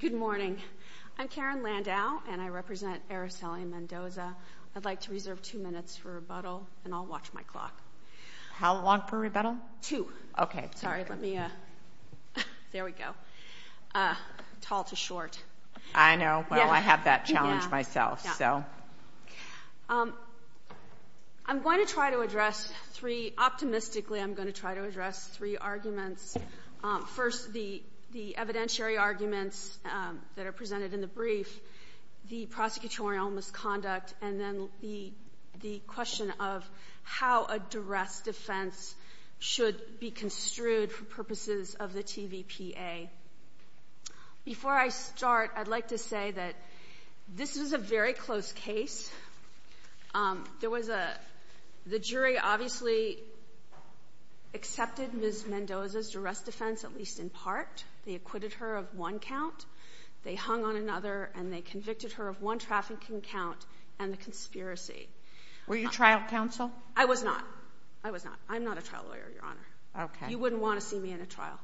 Good morning. I'm Karen Landau, and I represent Araceli Mendoza. I'd like to reserve two minutes for rebuttal, and I'll watch my clock. How long for rebuttal? Two. Okay. Sorry, let me – there we go. Tall to short. I know. Well, I have that challenge myself, so. I'm going to try to address three – optimistically, I'm going to try to address three arguments. First, the evidentiary arguments that are presented in the brief, the prosecutorial misconduct, and then the question of how a duress defense should be construed for purposes of the TVPA. Before I start, I'd like to say that this is a very close case. The jury obviously accepted Ms. Mendoza's duress defense, at least in part. They acquitted her of one count. They hung on another, and they convicted her of one trafficking count and the conspiracy. Were you trial counsel? I was not. I was not. I'm not a trial lawyer, Your Honor. Okay. You wouldn't want to see me in a trial.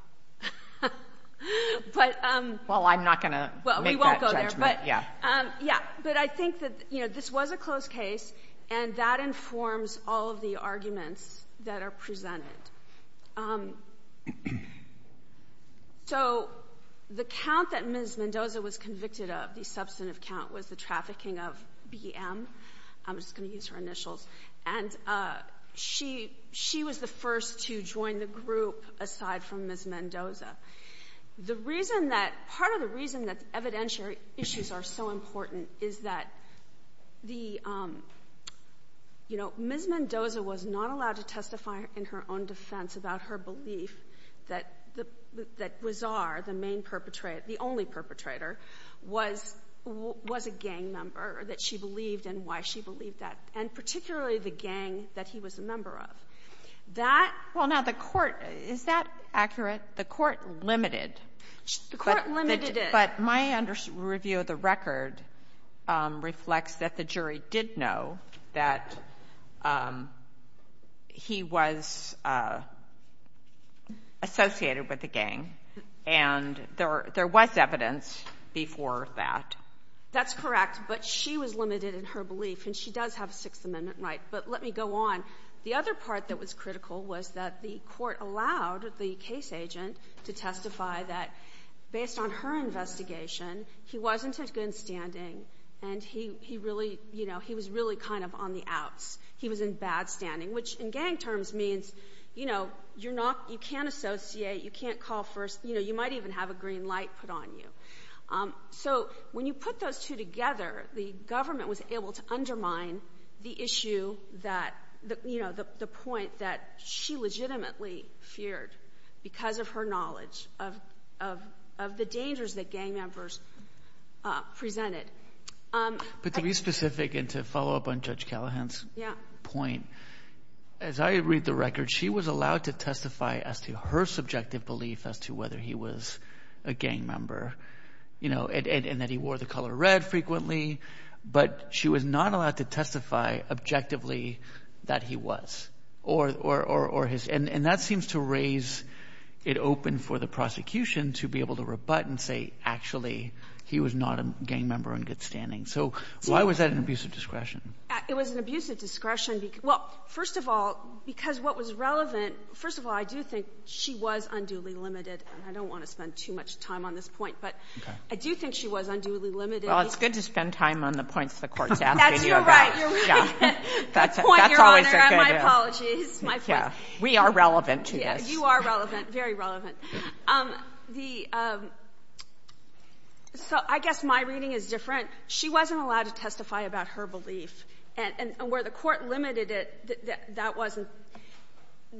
But – Well, I'm not going to make that judgment. Well, we won't go there. Yeah. Yeah. But I think that, you know, this was a close case, and that informs all of the arguments that are presented. So, the count that Ms. Mendoza was convicted of, the substantive count, was the trafficking of BM – I'm just going to use her initials – and she was the first to join the group aside from Ms. Mendoza. The reason that, part of the reason that evidentiary issues are so important is that the, you know, Ms. Mendoza was not allowed to testify in her own defense about her belief that Wizar, the main perpetrator, the only perpetrator, was a gang member, that she believed and why she believed that, and particularly the gang that he was a member of. That – Well, now, the court – is that accurate? The court limited – The court limited it. But my under – review of the record reflects that the jury did know that he was associated with a gang, and there was evidence before that. That's correct, but she was limited in her belief, and she does have a Sixth Amendment right. But let me go on. The other part that was critical was that the court allowed the case agent to testify that, based on her investigation, he wasn't in good standing, and he really, you know, he was really kind of on the outs. He was in bad standing, which in gang terms means, you know, you're not, you can't associate, you can't call first, you know, you might even have a green light put on you. So, when you put those two together, the government was able to undermine the issue that, you know, the point that she legitimately feared because of her knowledge of the dangers that gang members presented. But to be specific and to follow up on Judge Callahan's point, as I read the record, she was allowed to testify as to her subjective belief as to whether he was a gang member, you know, and that he wore the color red frequently, but she was not allowed to testify objectively that he was. Or his, and that seems to raise it open for the prosecution to be able to rebut and say actually he was not a gang member in good standing. So, why was that an abusive discretion? It was an abusive discretion because, well, first of all, because what was relevant, first of all, I do think she was unduly limited, and I don't want to spend too much time on this point, but I do think she was unduly limited. Well, it's good to spend time on the points the Court's asking you about. That's your right. Your point, Your Honor. My apologies. My point. We are relevant to this. Yeah, you are relevant, very relevant. So I guess my reading is different. She wasn't allowed to testify about her belief, and where the Court limited it, that wasn't.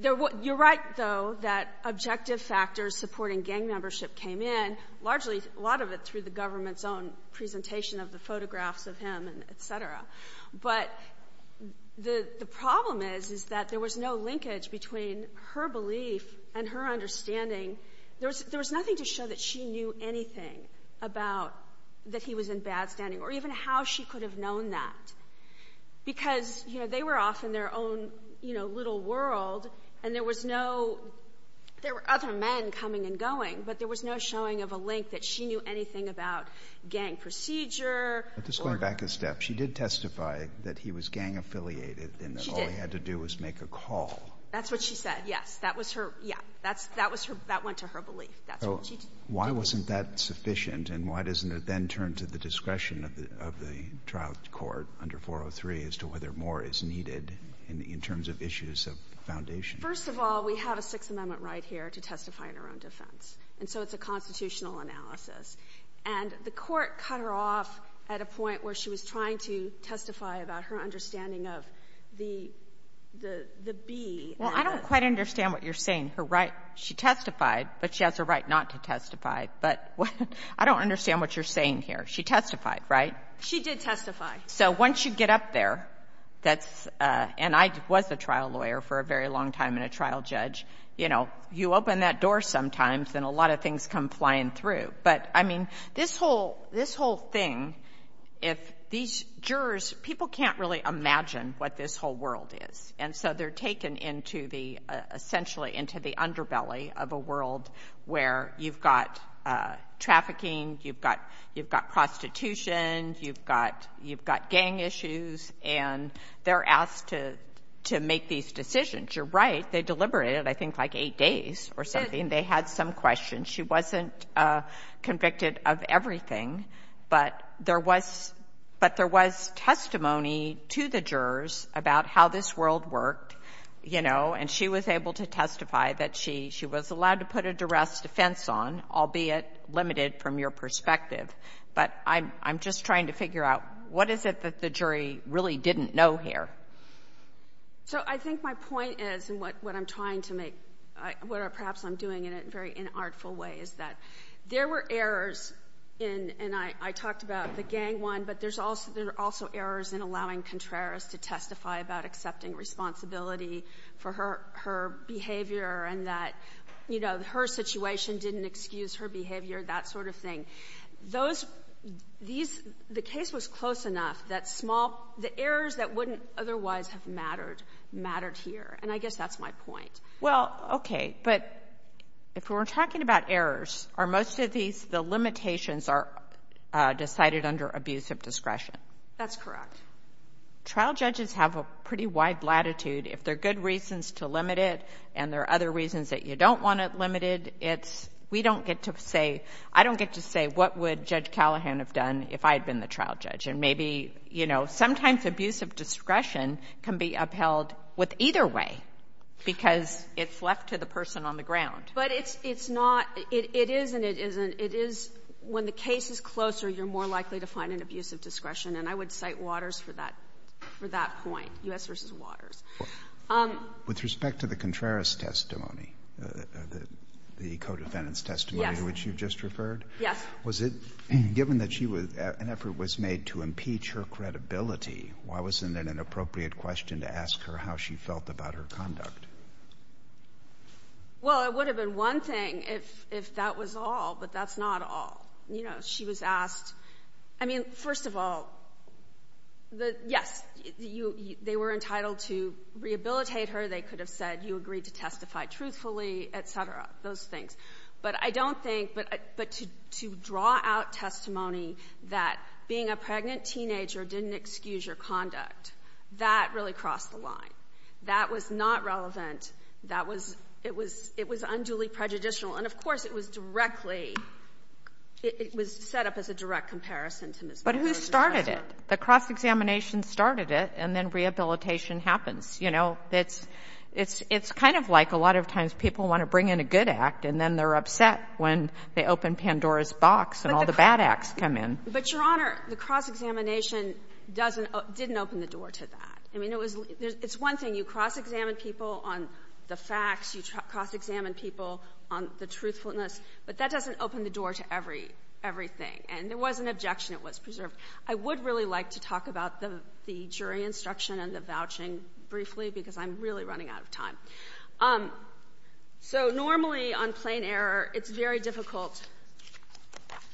You're right, though, that objective factors supporting gang membership came in, largely, a lot of it through the government's own presentation of the photographs of him, et cetera. But the problem is that there was no linkage between her belief and her understanding. There was nothing to show that she knew anything about that he was in bad standing, or even how she could have known that. Because, you know, they were off in their own, you know, little world, and there was no, there were other men coming and going, but there was no showing of a link that she knew anything about gang procedure or— But just going back a step, she did testify that he was gang-affiliated and that all he had to do was make a call. She did. That's what she said, yes. That was her, yeah. That's, that was her, that went to her belief. That's what she did. Why wasn't that sufficient, and why doesn't it then turn to the discretion of the trial court under 403 as to whether more is needed in terms of issues of foundation? First of all, we have a Sixth Amendment right here to testify in our own defense, and so it's a constitutional analysis. And the court cut her off at a point where she was trying to testify about her understanding of the, the, the B. Well, I don't quite understand what you're saying. Her right, she testified, but she has a right not to testify. But I don't understand what you're saying here. She testified, right? She did testify. So, once you get up there, that's, and I was a trial lawyer for a very long time and a But, I mean, this whole, this whole thing, if these jurors, people can't really imagine what this whole world is. And so they're taken into the, essentially into the underbelly of a world where you've got trafficking, you've got, you've got prostitution, you've got, you've got gang issues, and they're asked to, to make these decisions. You're right, they deliberated, I think, like eight days or something. They had some questions. She wasn't convicted of everything, but there was, but there was testimony to the jurors about how this world worked, you know, and she was able to testify that she, she was allowed to put a duress defense on, albeit limited from your perspective. But I'm, I'm just trying to figure out what is it that the jury really didn't know here? So, I think my point is, and what, what I'm trying to make, what perhaps I'm doing in a very inartful way, is that there were errors in, and I, I talked about the gang one, but there's also, there are also errors in allowing Contreras to testify about accepting responsibility for her, her behavior and that, you know, her situation didn't excuse her behavior, that sort of thing. Those, these, the case was close enough that small, the errors that wouldn't otherwise have mattered, mattered here, and I guess that's my point. Well, okay, but if we're talking about errors, are most of these, the limitations are decided under abuse of discretion? That's correct. Trial judges have a pretty wide latitude. If there are good reasons to limit it and there are other reasons that you don't want it limited, it's, we don't get to say, I don't get to say, what would Judge Callahan have done if I had been the trial judge? And maybe, you know, sometimes abuse of discretion can be upheld with either way, because it's left to the person on the ground. But it's, it's not, it is and it isn't, it is, when the case is closer, you're more likely to find an abuse of discretion, and I would cite Waters for that, for that point, U.S. v. Waters. With respect to the Contreras testimony, the, the co-defendant's testimony to which you have credibility, why wasn't it an appropriate question to ask her how she felt about her conduct? Well, it would have been one thing if, if that was all, but that's not all. You know, she was asked, I mean, first of all, the, yes, you, you, they were entitled to rehabilitate her, they could have said, you agreed to testify truthfully, et cetera, those things. But I don't think, but, but to, to draw out testimony that being a pregnant teenager didn't excuse your conduct, that really crossed the line. That was not relevant, that was, it was, it was unduly prejudicial. And of course, it was directly, it, it was set up as a direct comparison to Ms. Waters' testimony. But who started it? The cross-examination started it, and then rehabilitation happens. You know, it's, it's, it's kind of like a lot of times people want to bring in a good act, and then they're upset when they open Pandora's box and all the bad acts come in. But, Your Honor, the cross-examination doesn't, didn't open the door to that. I mean, it was, it's one thing, you cross-examine people on the facts, you cross-examine people on the truthfulness, but that doesn't open the door to every, everything. And there was an objection, it was preserved. I would really like to talk about the, the jury instruction and the vouching briefly, because I'm really running out of time. So, normally, on plain error, it's very difficult.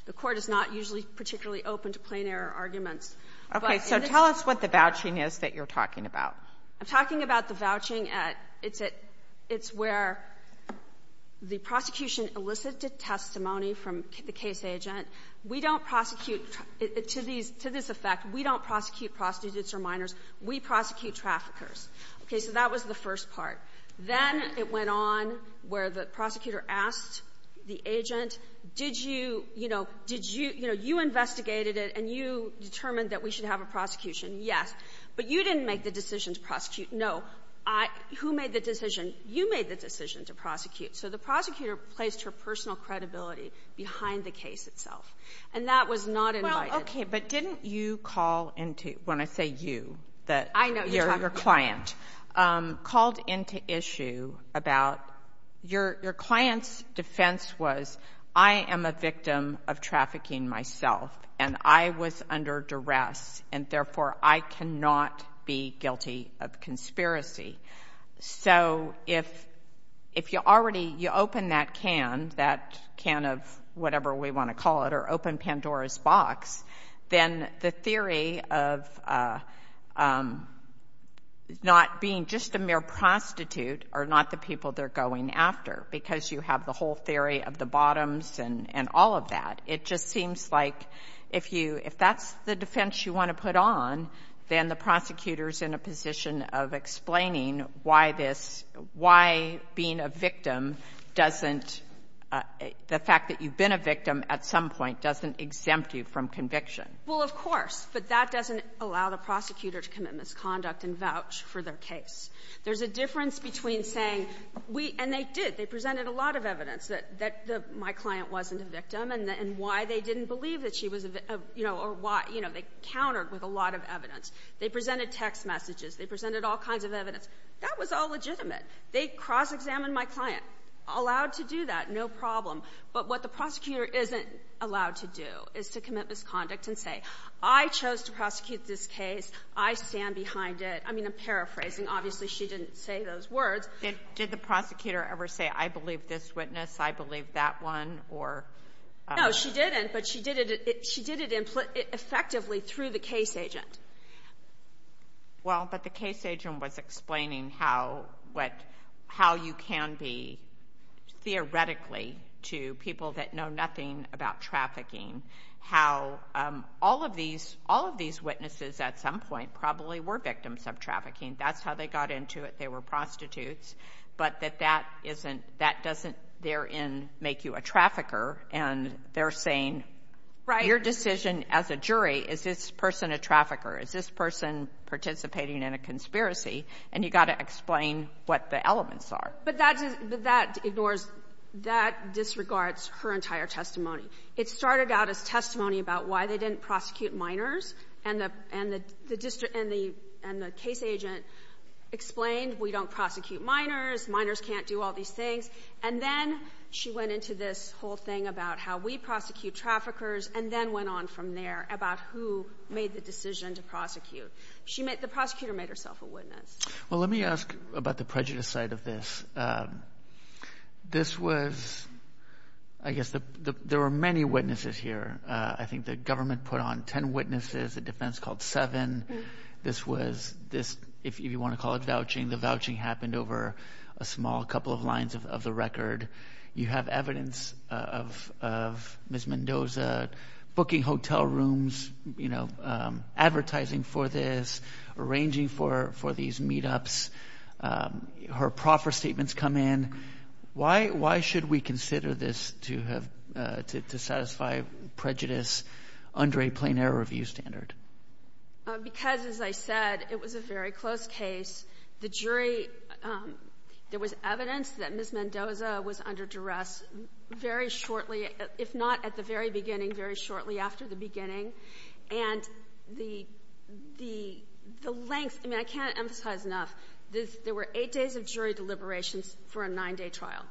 The Court is not usually particularly open to plain error arguments. Okay. So, tell us what the vouching is that you're talking about. I'm talking about the vouching at, it's at, it's where the prosecution elicited testimony from the case agent. We don't prosecute, to these, to this effect, we don't prosecute prostitutes or minors. We prosecute traffickers. Okay. So, that was the first part. Then, it went on where the prosecutor asked the agent, did you, you know, did you, you know, you investigated it and you determined that we should have a prosecution. Yes. But you didn't make the decision to prosecute. No. I, who made the decision? You made the decision to prosecute. So, the prosecutor placed her personal credibility behind the case itself. And that was not invited. Okay. But didn't you call into, when I say you, that your client called into issue about, your client's defense was, I am a victim of trafficking myself and I was under duress and therefore, I cannot be guilty of conspiracy. So, if, if you already, you open that can, that can of whatever we want to call it, or open Pandora's box, then the theory of not being just a mere prostitute are not the people they're going after because you have the whole theory of the bottoms and, and all of that. It just seems like if you, if that's the defense you want to put on, then the prosecutor's in a position of explaining why this, why being a victim doesn't, the fact that you've been a victim at some point doesn't exempt you from conviction. Well, of course. But that doesn't allow the prosecutor to commit misconduct and vouch for their case. There's a difference between saying we, and they did, they presented a lot of evidence that, that the, my client wasn't a victim and, and why they didn't believe that she was a, you know, or why, you know, they countered with a lot of evidence. They presented text messages. They presented all kinds of evidence. That was all legitimate. They cross-examined my client. Allowed to do that, no problem. But what the prosecutor isn't allowed to do is to commit misconduct and say, I chose to prosecute this case. I stand behind it. I mean, I'm paraphrasing. Obviously, she didn't say those words. Did, did the prosecutor ever say, I believe this witness, I believe that one, or? No, she didn't, but she did it, she did it in, effectively through the case agent. Well, but the case agent was explaining how, what, how you can be, theoretically, to people that know nothing about trafficking, how all of these, all of these witnesses, at some point, probably were victims of trafficking. That's how they got into it. They were prostitutes. But that that isn't, that doesn't, therein, make you a trafficker. And they're saying, your decision as a jury, is this person a trafficker? Is this person participating in a conspiracy? And you got to explain what the elements are. But that's, that ignores, that disregards her entire testimony. It started out as testimony about why they didn't prosecute minors. And the, and the, the district, and the, and the case agent explained, we don't prosecute minors. Minors can't do all these things. And then, she went into this whole thing about how we prosecute traffickers, and then went on from there about who made the decision to prosecute. She made, the prosecutor made herself a witness. Well, let me ask about the prejudice side of this. This was, I guess the, the, there were many witnesses here. I think the government put on ten witnesses, a defense called seven. This was, this, if you want to call it vouching, the vouching happened over a small couple of lines of, of the record. You have evidence of, of Ms. Mendoza booking hotel rooms, you know, advertising for this, arranging for, for these meetups. Her proffer statements come in. Why, why should we consider this to have to, to satisfy prejudice under a plain error review standard? Because, as I said, it was a very close case. The jury there was evidence that Ms. Mendoza was under duress very shortly, if not at the very beginning, very shortly after the beginning. And the, the, the length, I mean, I can't emphasize enough, there were eight days of jury deliberations for a nine day trial.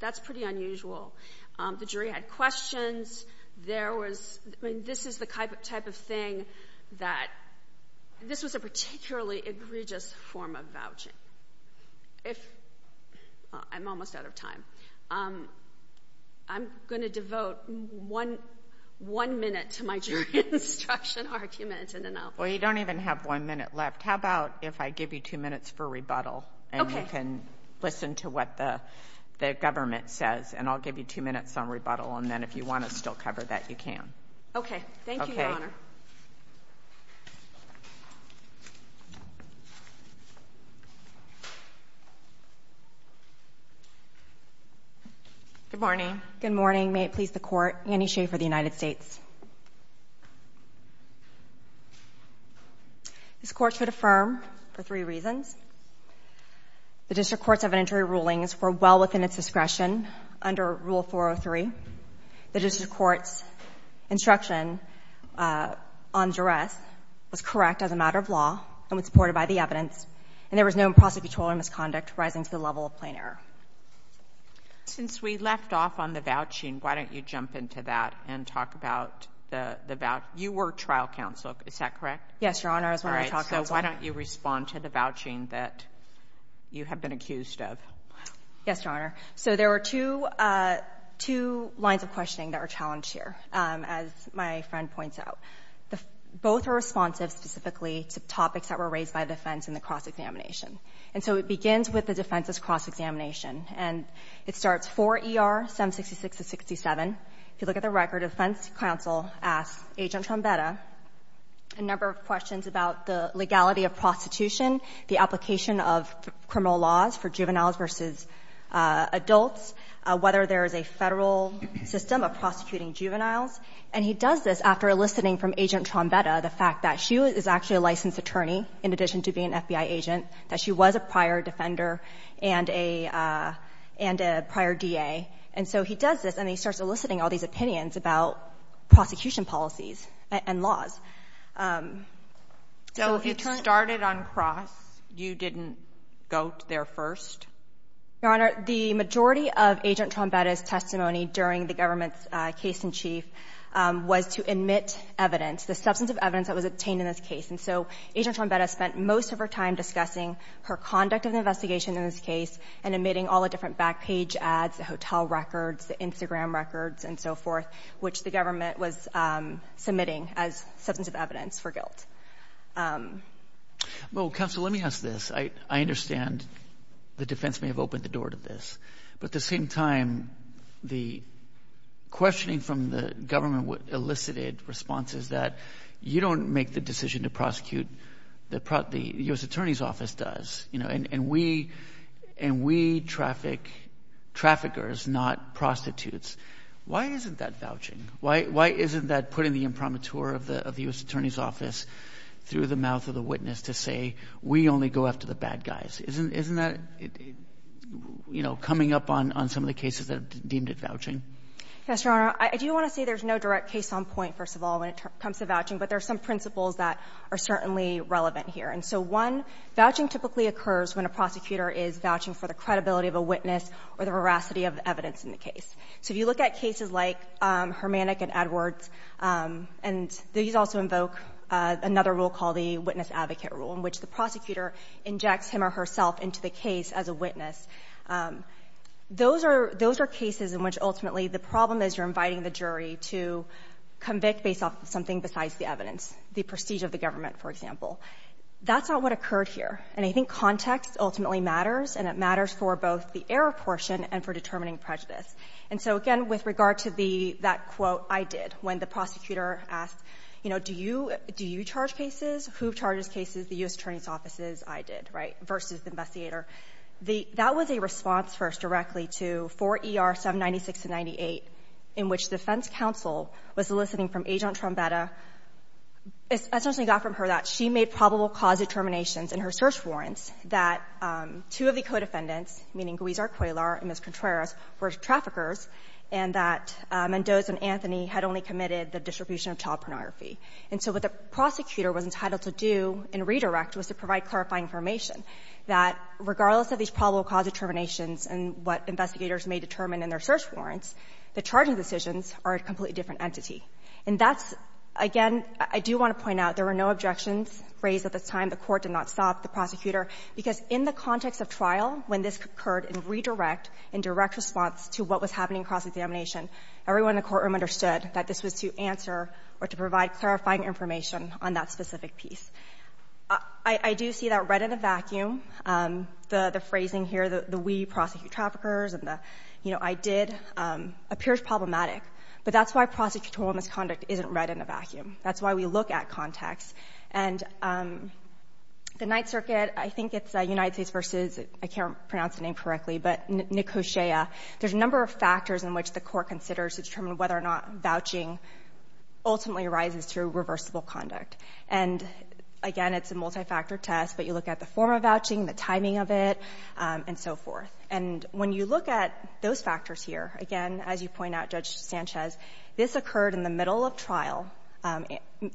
That's pretty unusual. The jury had questions. There was, I mean, this is the type of thing that, this was a particularly egregious form of vouching. If, I'm almost out of time. Um, I'm going to devote one, one minute to my jury instruction argument and then I'll. Well, you don't even have one minute left. How about if I give you two minutes for rebuttal and you can listen to what the, the government says and I'll give you two minutes on rebuttal and then if you want to still cover that, you can. Okay. Thank you, Your Honor. Good morning. Good morning. May it please the court, Annie Schaefer of the United States. This court should affirm for three reasons. The district court's evidentiary ruling is for well within its discretion under Rule 403. The district court's instruction on duress was correct as a matter of law and was supported by the evidence and there was no improper control or misconduct rising to the level of plain error. Since we left off on the vouching, why don't you jump into that and talk about the, the voucher. You were trial counsel, is that correct? Yes, Your Honor. So why don't you respond to the vouching that you have been accused of? Yes, Your Honor. So there were two, uh, two lines of questioning that were challenged here. Um, as my friend points out, both are responsive specifically to topics that were raised by defense in the cross examination. And so it begins with the defense's cross examination. And it starts for ER 766-67. If you look at the record, defense counsel asks Agent Trombetta a number of questions about the legality of prostitution, the application of criminal laws for juveniles versus, uh, adults, whether there is a Federal system of prosecuting juveniles. And he does this after eliciting from Agent Trombetta the fact that she is actually a licensed attorney, in addition to being an FBI agent, that she was a prior defender and a, uh, and a prior DA. And so he does this and he starts eliciting all these opinions about prosecution policies and laws. Um, so if you turn... So if you started on cross, you didn't go there first? Your Honor, the majority of Agent Trombetta's testimony during the government's, uh, case in chief, um, was to admit evidence, the substance of evidence that was obtained in this case. And so Agent Trombetta spent most of her time discussing her conduct of the investigation in this case and admitting all the different back page ads, the hotel records, the Instagram records, and so forth, which the government was, um, submitting as substance of evidence for guilt. Um... Well, counsel, let me ask this. I, I understand the defense may have opened the door to this, but at the same time, the questioning from the government elicited responses that you don't make the decision to prosecute the pro... The U.S. Attorney's Office does, you know, and we, and we traffic, traffickers, not prostitutes. Why isn't that vouching? Why, why isn't that putting the imprimatur of the, of the U.S. Attorney's Office through the mouth of the up on, on some of the cases that are deemed as vouching? Yes, Your Honor. I, I do want to say there's no direct case on point, first of all, when it comes to vouching, but there are some principles that are certainly relevant here. And so one, vouching typically occurs when a prosecutor is vouching for the credibility of a witness or the veracity of the evidence in the case. So if you look at cases like, um, Hermannick and Edwards, um, and these also invoke, uh, another rule called the witness advocate rule, in which the prosecutor injects him or herself into the case as a witness. Um, those are, those are cases in which ultimately the problem is you're inviting the jury to convict based off of something besides the evidence, the prestige of the government, for example. That's not what occurred here. And I think context ultimately matters and it matters for both the error portion and for determining prejudice. And so again, with regard to the, that quote I did when the prosecutor asked, you know, do you, do you charge cases? Who charges cases? The U.S. Attorney's offices, I did, right? Versus the investigator. The, that was a response first directly to 4 ER 796 to 98, in which defense counsel was soliciting from Agent Trombetta, essentially got from her that she made probable cause determinations in her search warrants that, um, two of the co-defendants, meaning Guizar-Cuellar and Ms. Contreras, were traffickers, and that, um, Mendoza and And so what the prosecutor was entitled to do in redirect was to provide clarifying information that regardless of these probable cause determinations and what investigators may determine in their search warrants, the charging decisions are a completely different entity. And that's, again, I do want to point out there were no objections raised at this time. The Court did not stop the prosecutor because in the context of trial, when this occurred in redirect, in direct response to what was happening in cross-examination, everyone in the courtroom understood that this was to answer or to provide clarifying information on that specific piece. I, I do see that red in a vacuum. Um, the, the phrasing here, the, the we prosecute traffickers and the, you know, I did, um, appears problematic, but that's why prosecutorial misconduct isn't red in a vacuum. That's why we look at context. And, um, the Ninth Circuit, I think it's, uh, United States versus, I can't pronounce the name correctly, but Nicosia, there's a number of factors in which the Court considers to determine whether or not vouching ultimately arises through reversible conduct. And again, it's a multi-factor test, but you look at the form of vouching, the timing of it, um, and so forth. And when you look at those factors here, again, as you point out, Judge Sanchez, this occurred in the middle of trial. Um,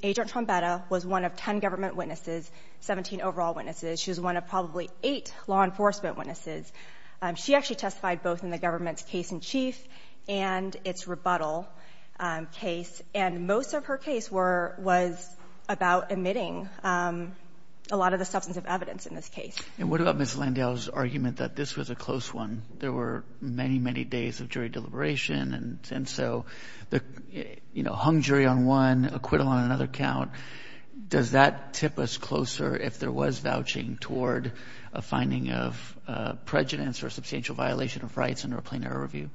Agent Trombetta was one of 10 government witnesses, 17 overall witnesses. She was one of probably eight law enforcement witnesses. Um, she actually testified both in the government's case-in-chief and its rebuttal, um, case. And most of her case were — was about emitting, um, a lot of the substantive evidence in this case. And what about Ms. Landau's argument that this was a close one? There were many, many days of jury deliberation, and, and so the, you know, hung jury on one, acquittal on another count. Does that tip us closer if there was vouching toward a finding of, uh, prejudice or substantial violation of rights under a plain error review?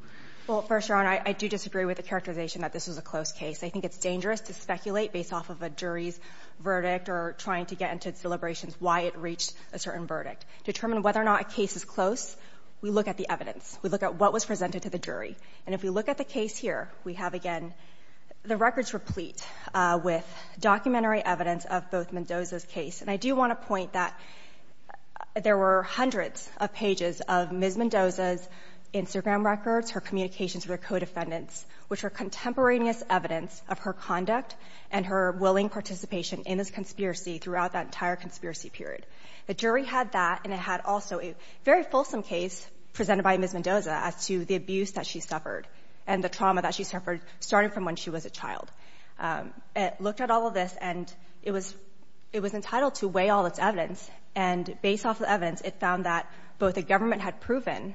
Well, First Your Honor, I, I do disagree with the characterization that this was a close case. I think it's dangerous to speculate based off of a jury's verdict or trying to get into its deliberations why it reached a certain verdict. To determine whether or not a case is close, we look at the evidence. We look at what was presented to the jury. And if we look at the case here, we have, again, the records replete, uh, with documentary evidence of both Mendoza's case. And I do want to point that there were hundreds of pages of Ms. Mendoza's Instagram records, her communications with her co-defendants, which were contemporaneous evidence of her conduct and her willing participation in this conspiracy throughout that entire conspiracy period. The jury had that, and it had also a very fulsome case presented by Ms. Mendoza as to the abuse that she suffered and the trauma that she suffered starting from when she was a child. Um, it looked at all of this, and it was, it was entitled to weigh all its evidence. And based off of the evidence, it found that both the government had proven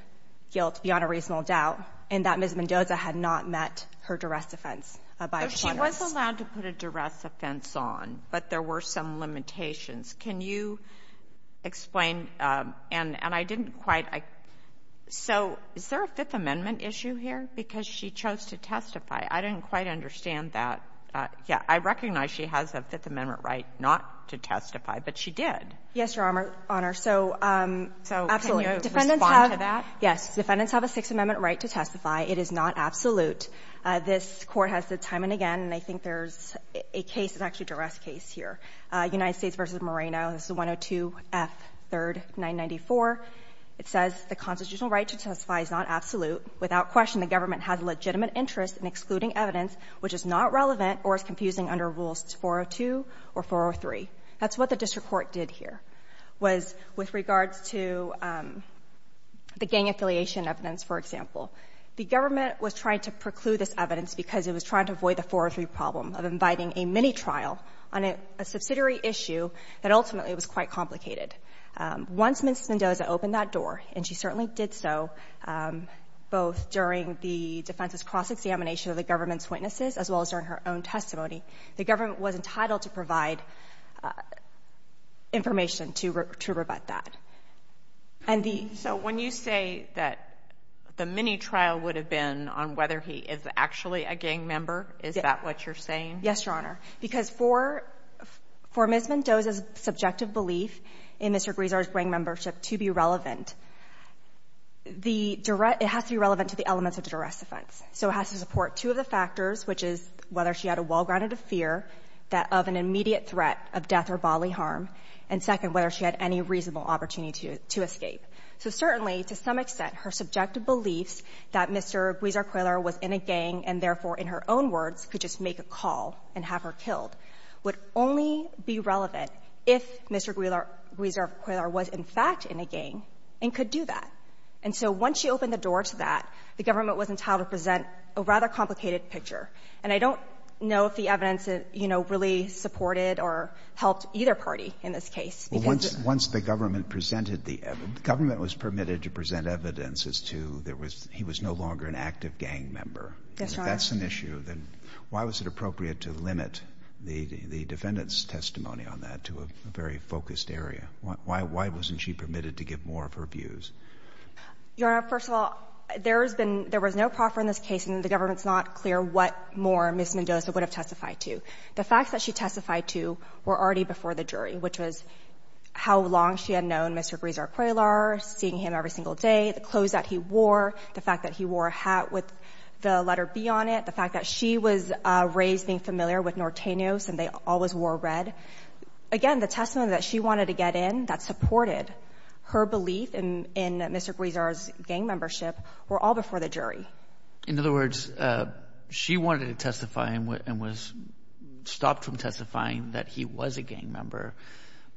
guilt beyond a reasonable doubt, and that Ms. Mendoza had not met her duress offense by a plaintiff. But she was allowed to put a duress offense on, but there were some limitations. Can you explain, um, and, and I didn't quite, I, so is there a Fifth Amendment issue here? Because she chose to testify. I didn't quite understand that. Uh, yeah, I recognize she has a Fifth Amendment right not to testify, but she did. Yes, Your Honor. So, um, absolutely. So can you respond to that? Yes. Defendants have a Sixth Amendment right to testify. It is not absolute. Uh, this Court has said time and again, and I think there's a case, it's actually a duress case here, uh, United States v. Moreno. This is 102 F. 3rd. 994. It says the constitutional right to testify is not absolute. Without question, the government has a legitimate interest in excluding evidence which is not relevant or is confusing under Rules 402 or 403. That's what the district court did here, was with regards to, um, the gang affiliation evidence, for example. The government was trying to preclude this evidence because it was trying to avoid the 403 problem of inviting a mini-trial on a subsidiary issue that ultimately was quite complicated. Um, once Ms. Mendoza opened that door, and she certainly did so, um, both during the defense's cross-examination of the government's witnesses as well as during her own testimony, the government was entitled to provide, uh, information to rebut that. And the— So when you say that the mini-trial would have been on whether he is actually a gang member, is that what you're saying? Yes, Your Honor. Because for—for Ms. Mendoza's subjective belief in Mr. Guisar's gang membership to be relevant, the direct—it has to be relevant to the elements of the direct offense. So it has to support two of the factors, which is whether she had a well-grounded fear that—of an immediate threat of death or bodily harm, and second, whether she had any reasonable opportunity to—to escape. So certainly, to some extent, her subjective beliefs that Mr. Guisar Quiller was in a gang and therefore, in her own words, could just make a call and have her killed would only be relevant if Mr. Guisar Quiller was, in fact, in a gang and could do that. And so once she opened the door to that, the government was entitled to present a rather complicated picture. And I don't know if the evidence, you know, really supported or helped either party in this case. Well, once—once the government presented the—the government was permitted to present evidence as to there was—he was no longer an active gang member. Yes, Your Honor. If that's an issue, then why was it appropriate to limit the—the defendant's testimony on that to a very focused area? Why—why wasn't she permitted to give more of her views? Your Honor, first of all, there has been—there was no proffer in this case, and the government's not clear what more Ms. Mendoza would have testified to. The facts that she testified to were already before the jury, which was how long she had known Mr. Guisar Quiller, seeing him every single day, the clothes that he wore, the fact that he wore a hat with the letter B on it, the fact that she was raised being familiar with Norteños and they always wore red. Again, the testimony that she wanted to get in that supported her belief in—in Mr. Guisar's gang membership were all before the jury. In other words, she wanted to testify and was—stopped from testifying that he was a gang member,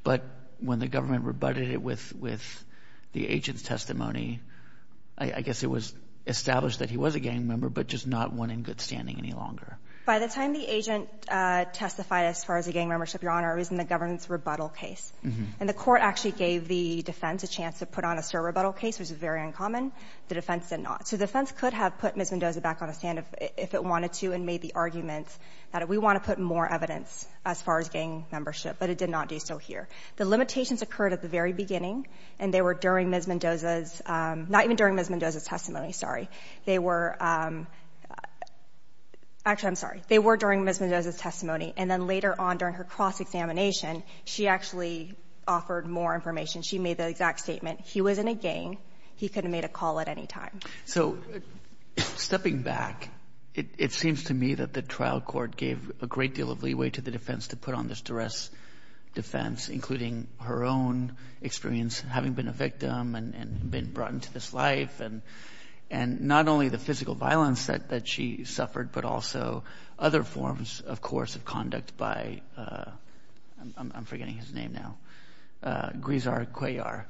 but when the government rebutted it with—with the agent's testimony, I guess it was established that he was a gang member, but just not one in good standing any longer. By the time the agent testified as far as the gang membership, Your Honor, it was in the government's rebuttal case. And the court actually gave the defense a chance to put on a surrebuttal case, which was very uncommon. The defense did not. So the defense could have put Ms. Mendoza back on the stand if it wanted to and made the argument that we want to put more evidence as far as gang membership, but it did not do so here. The limitations occurred at the very beginning, and they were during Ms. Mendoza's—not even during Ms. Mendoza's testimony, sorry. They were—actually, I'm sorry. They were during Ms. Mendoza's testimony, and then later on during her cross-examination, she actually offered more information. She made the exact statement, he was in a gang. He could have made a call at any time. So, stepping back, it seems to me that the trial court gave a great deal of leeway to the defense to put on this duress defense, including her own experience having been a victim and been brought into this life, and not only the physical violence that she suffered, but also other forms, of course, of conduct by—I'm forgetting his name now—Grizar Cuellar.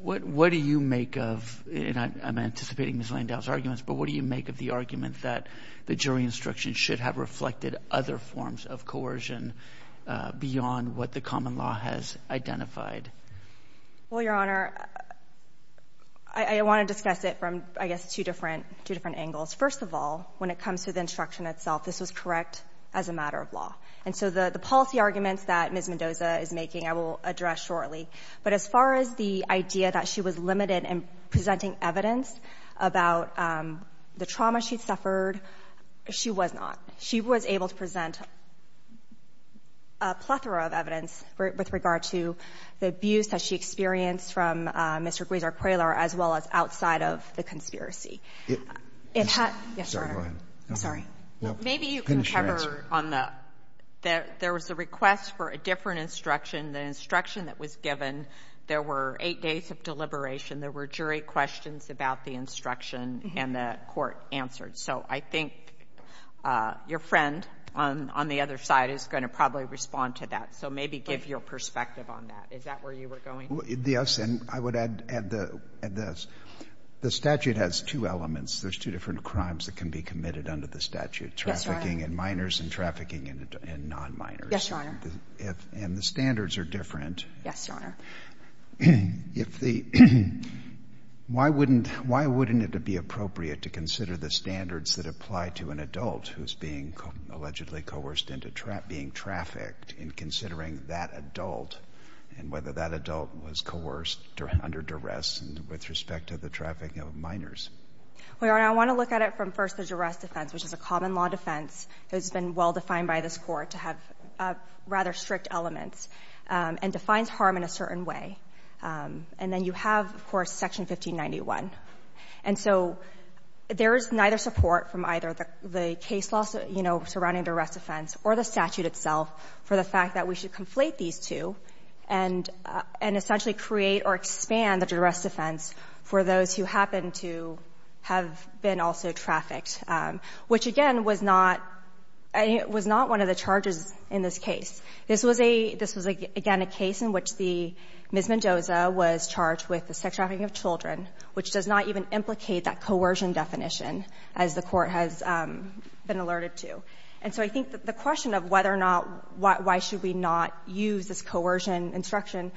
What do you make of—and I'm anticipating Ms. Mendoza's arguments—but what do you make of the argument that the jury instruction should have reflected other forms of coercion beyond what the common law has identified? Well, Your Honor, I want to discuss it from, I guess, two different angles. First of all, when it comes to the instruction itself, this was correct as a matter of law, and so the policy arguments that Ms. Mendoza is making I will address shortly, but as far as the idea that she was limited in presenting evidence about the trauma she'd suffered, she was not. She was able to present a plethora of evidence with regard to the abuse that she experienced from Mr. Grizar Cuellar, as well as outside of the conspiracy. Maybe you can cover on the—there was a request for a different instruction. The instruction that was given, there were eight days of deliberation. There were jury questions about the instruction, and the court answered. So I think your friend on the other side is going to probably respond to that, so maybe give your perspective on that. Is that where you were going? Yes, and I would add this. The statute has two elements. There's two different crimes that can be committed under the statute, trafficking and minors and trafficking and non-minors. Yes, Your Honor. And the standards are different. Yes, Your Honor. If the—why wouldn't it be appropriate to consider the standards that apply to an adult who's being allegedly coerced into being trafficked in considering that adult and whether that adult was coerced under duress with respect to the trafficking of minors? Well, Your Honor, I want to look at it from first the duress defense, which is a common law defense. It's been well-defined by this court to have rather strict elements and defines harm in a certain way. And then you have, of course, Section 1591. And so there is neither support from either the case law, you know, surrounding duress defense or the statute itself for the fact that we should conflate these two and essentially create or expand the duress defense for those who happen to have been also trafficked, which, again, was not one of the charges in this case. This was a—this was, again, a case in which the—Ms. Mendoza was charged with the sex trafficking of children, which does not even implicate that coercion definition, as the court has been alerted to. And so I think that the question of whether or not—why should we not use this coercion instruction,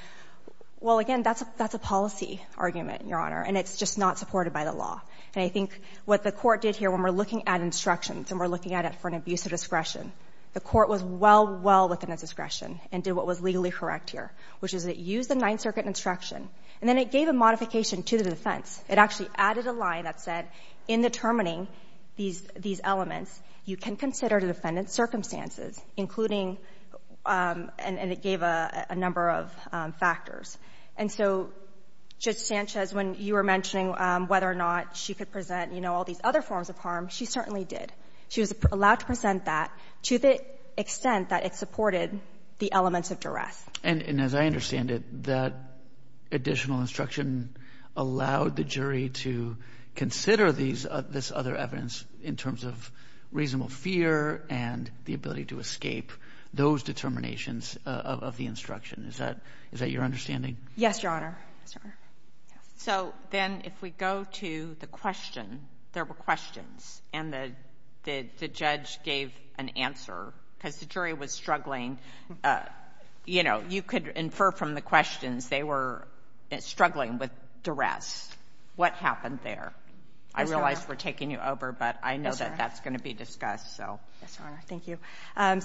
well, again, that's a policy argument, Your Honor, and it's just not supported by the law. And I think what the court did here when we're looking at instructions and we're looking at it for an abuse of discretion, the court was well, well within its discretion and did what was legally correct here, which is it used the Ninth Circuit instruction. And then it gave a modification to the defense. It actually added a line that said, in determining these elements, you can consider the defendant's circumstances, including—and it gave a number of factors. And so Judge Sanchez, when you were mentioning whether or not she could present, you know, all these other forms of harm, she certainly did. She was allowed to present that to the extent that it supported the elements of duress. And as I understand it, that additional instruction allowed the jury to consider these —this other evidence in terms of reasonable fear and the ability to escape those determinations of the instruction. Is that —is that your understanding? Yes, Your Honor. So then if we go to the question, there were questions, and the judge gave an answer, because the jury was struggling. You know, you could infer from the questions, they were struggling with duress. What happened there? I realize we're taking you over, but I know that that's going to be discussed, so. Yes, Your Honor. Thank you.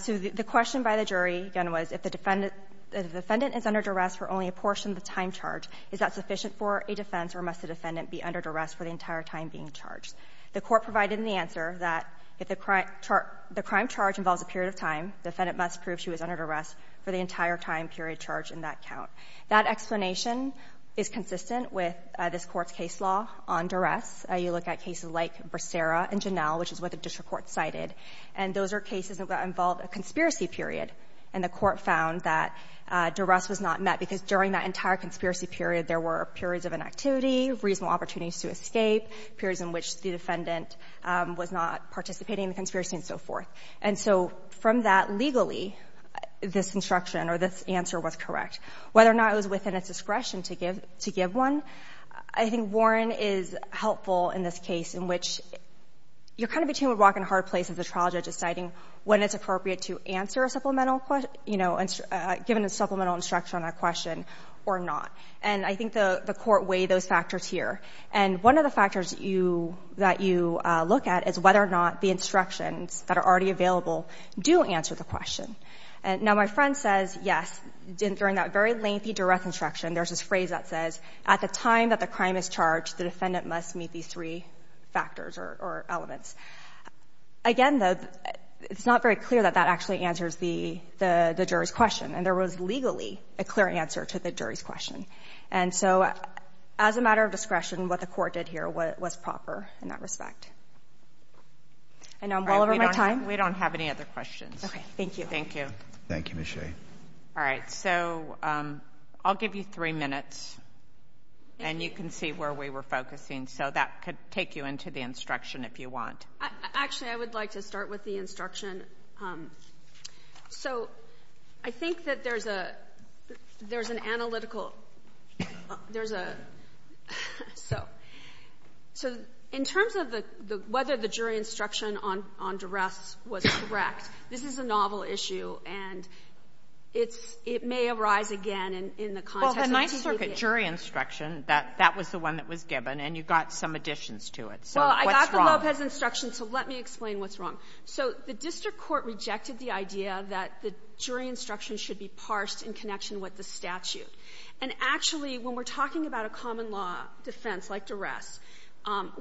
So the question by the jury, again, was, if the defendant is under duress for only a portion of the time charged, is that sufficient for a defense, or must the defendant be under duress for the entire time being charged? The Court provided in the answer that if the crime charge involves a period of time, the defendant must prove she was under duress for the entire time period charged in that count. That explanation is consistent with this Court's case law on duress. You look at cases like Bracera and Janelle, which is what the district court cited, and those are cases that involve a conspiracy period. And the Court found that duress was not met, because during that entire conspiracy period, there were periods of inactivity, reasonable opportunities to escape, periods in which the defendant was not participating in the conspiracy, and so forth. And so from that, legally, this instruction, or this answer, was correct. Whether or not it was within its discretion to give one, I think Warren is helpful in this case, in determining when it's appropriate to answer a supplemental, you know, given a supplemental instruction on a question, or not. And I think the Court weighed those factors here. And one of the factors that you look at is whether or not the instructions that are already available do answer the question. Now, my friend says, yes, during that very lengthy duress instruction, there's this phrase that says, at the time that the crime is charged, the defendant must meet these three factors or elements. Again, though, it's not very clear that that actually answers the jury's question. And there was legally a clear answer to the jury's question. And so as a matter of discretion, what the Court did here was proper in that respect. And now I'm well over my time. We don't have any other questions. Okay. Thank you. Thank you. Thank you, Ms. Shea. All right. So, I'll give you three minutes. And you can see where we were focusing. So, that could take you into the instruction if you want. Actually, I would like to start with the instruction. So, I think that there's an analytical, there's a, so, in terms of whether the jury instruction on duress was correct, this is a novel issue. And it's, it may arise again in the context of the TVA. Well, the Ninth Circuit jury instruction, that was the one that was given. And you got some additions to it. So, what's wrong? Well, I got the Lopez instruction, so let me explain what's wrong. So, the District Court rejected the idea that the jury instruction should be parsed in connection with the statute. And actually, when we're talking about a common law defense, like duress,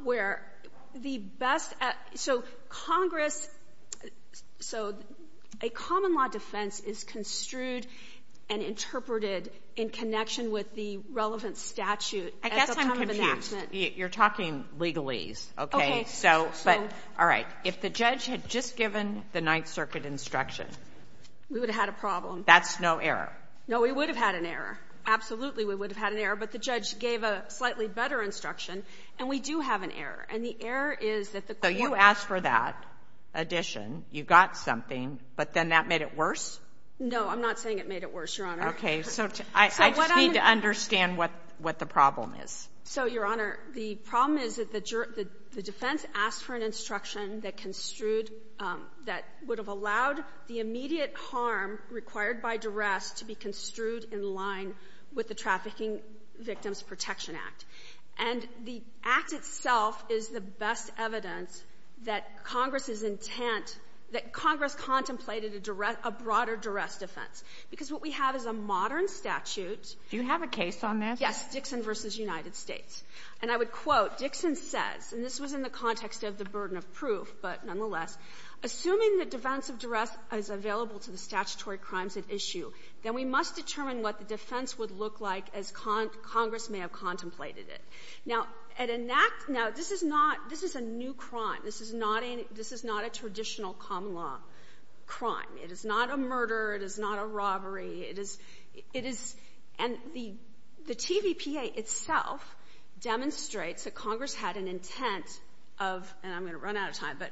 where the best, so Congress, so a common law defense is construed and interpreted in connection with the relevant statute at the time of enactment. I guess I'm confused. You're talking legalese. Okay. So, but, all right. If the judge had just given the Ninth Circuit instruction. We would have had a problem. That's no error. No, we would have had an error. Absolutely, we would have had an error. But the judge gave a slightly better instruction. And we do have an error. And the error is that the So, you asked for that addition. You got something. But then that made it worse? No, I'm not saying it made it worse, Your Honor. Okay. So, I just need to understand what the problem is. So, Your Honor, the problem is that the defense asked for an instruction that construed, that would have allowed the immediate harm required by duress to be construed in line with the Trafficking Victims Protection Act. And the act itself is the best evidence that Congress's intent, that Congress contemplated a broader duress defense. Because what we have is a modern statute. Do you have a case on this? Yes. Dixon v. United States. And I would quote, Dixon says, and this was in the context of the burden of proof, but nonetheless, assuming the defense of duress is available to the statutory crimes at issue, then we must determine what the defense would look like as Congress may have contemplated it. Now, this is a new crime. This is not a traditional common law crime. It is not a murder. It is not a robbery. It is, and the TVPA itself demonstrates that Congress had an intent of, and I'm going to run out of time, but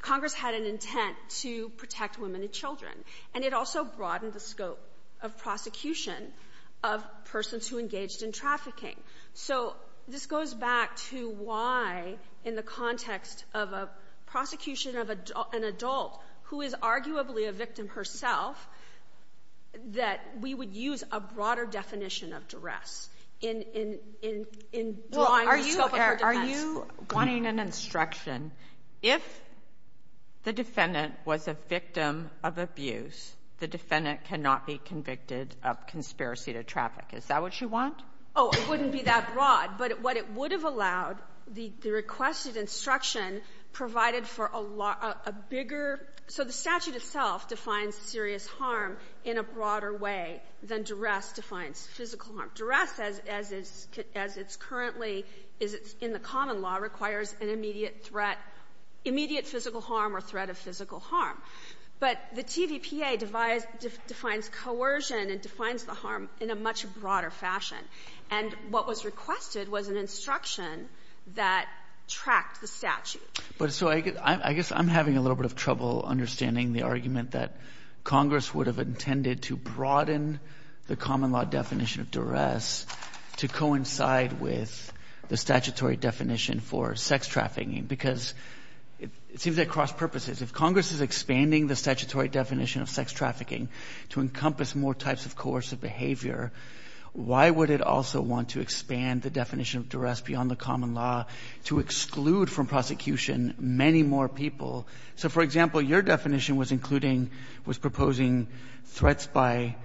Congress had an intent to protect women and children. And it also broadened the scope of prosecution of persons who engaged in trafficking. So this goes back to why, in the context of a prosecution of an adult who is arguably a victim herself, that we would use a broader definition of duress in drawing the scope of her defense. Are you wanting an instruction, if the defendant was a victim of abuse, the defendant cannot be convicted of conspiracy to traffic? Is that what you want? Oh, it wouldn't be that broad. But what it would have allowed, the requested instruction provided for a bigger, so the statute itself defines serious harm in a broader way than duress defines physical harm. Duress, as it's currently in the common law, requires an immediate threat, immediate physical harm or threat of physical harm. But the TVPA defines coercion and defines the harm in a much broader fashion. And what was requested was an instruction that tracked the statute. But so I guess I'm having a little bit of trouble understanding the argument that Congress would have intended to broaden the common law definition of duress to coincide with the statutory definition for sex trafficking. Because it seems that cross purposes, if Congress is expanding the statutory definition of sex trafficking to encompass more types of coercive behavior, why would it also want to expand the definition of duress beyond the common law to exclude from prosecution many more people? So for example, your definition was including, was proposing threats by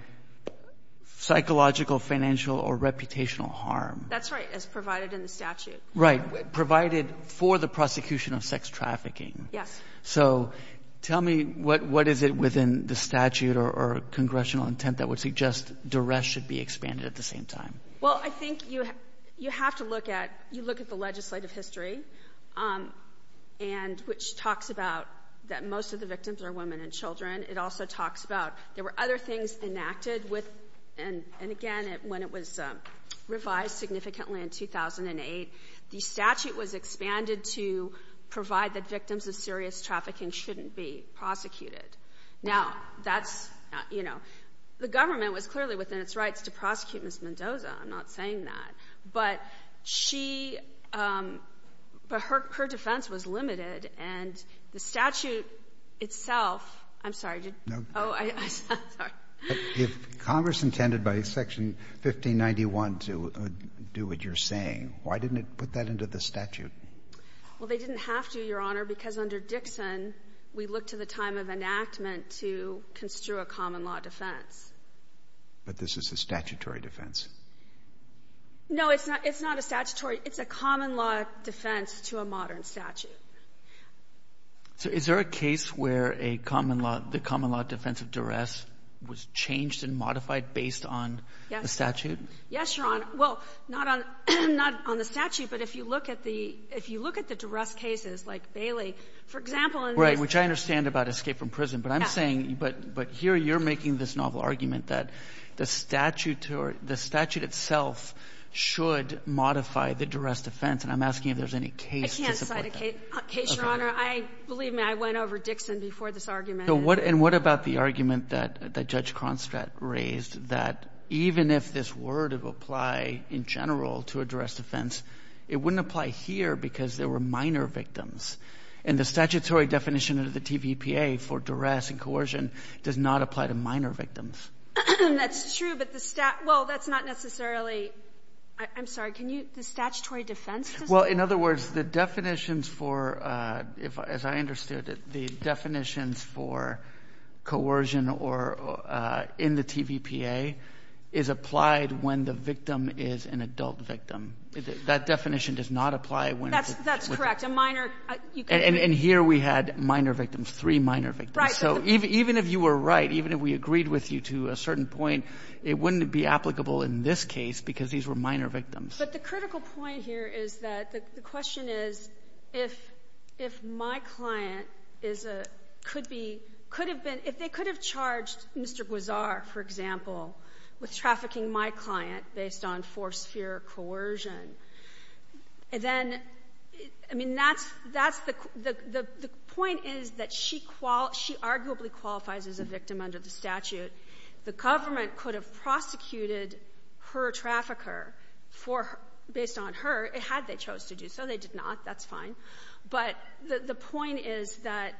psychological, financial or reputational harm. That's right, as provided in the statute. Right. Provided for the prosecution of sex trafficking. Yes. So tell me what is it within the statute or congressional intent that would suggest duress should be expanded at the same time? Well I think you have to look at, you look at the legislative history and which talks about that most of the victims are women and children. It also talks about there were other things enacted with, and again when it was revised significantly in 2008, the statute was expanded to provide that victims of serious trafficking shouldn't be prosecuted. Now that's, you know, the government was clearly within its rights to prosecute Ms. Mendoza. I'm not saying that. But she, but her defense was limited and the statute itself, I'm sorry did you, oh I'm sorry. If Congress intended by section 1591 to do what you're saying, why didn't it put that into the statute? Well they didn't have to, Your Honor, because under Dixon we look to the time of enactment to construe a common law defense. But this is a statutory defense. No it's not, it's not a statutory, it's a common law defense to a modern statute. So is there a case where a common law, the common law defense of duress was changed and modified based on the statute? Yes Your Honor. Well not on, not on the statute, but if you look at the, if you look at the duress cases like Bailey, for example in this. Which I understand about escape from prison, but I'm saying, but, but here you're making this novel argument that the statute or the statute itself should modify the duress defense and I'm asking if there's any case to support that. I can't cite a case, Your Honor. I, believe me, I went over Dixon before this argument. So what, and what about the argument that, that Judge Cronstadt raised that even if this word would apply in general to a duress defense, it wouldn't apply here because there were minor victims. And the statutory definition of the TVPA for duress and coercion does not apply to minor victims. That's true, but the stat, well that's not necessarily, I'm sorry, can you, the statutory defense does not? Well, in other words, the definitions for, if, as I understood it, the definitions for coercion or, in the TVPA is applied when the victim is an adult victim. That definition does not apply when it's a child. That's, that's correct. A minor, you could. And, and here we had minor victims, three minor victims. Right. So even, even if you were right, even if we agreed with you to a certain point, it wouldn't be applicable in this case because these were minor victims. But the critical point here is that the question is if, if my client is a, could be, could have been, if they could have charged Mr. Guizar, for example, with trafficking my client based on force, fear, coercion, then, I mean, that's, that's the, the, the, the point is that she qual, she arguably qualifies as a victim under the statute. The government could have prosecuted her trafficker for, based on her, had they chose to do so. They did not, that's fine. But the, the point is that,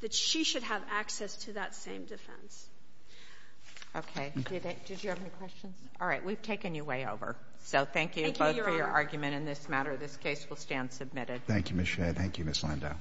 that she should have access to that same defense. Okay. Did, did you have any questions? All right. We've taken you way over. So thank you both for your argument in this matter. This case will stand submitted. Thank you, Ms. Shea. Thank you, Ms. Landau.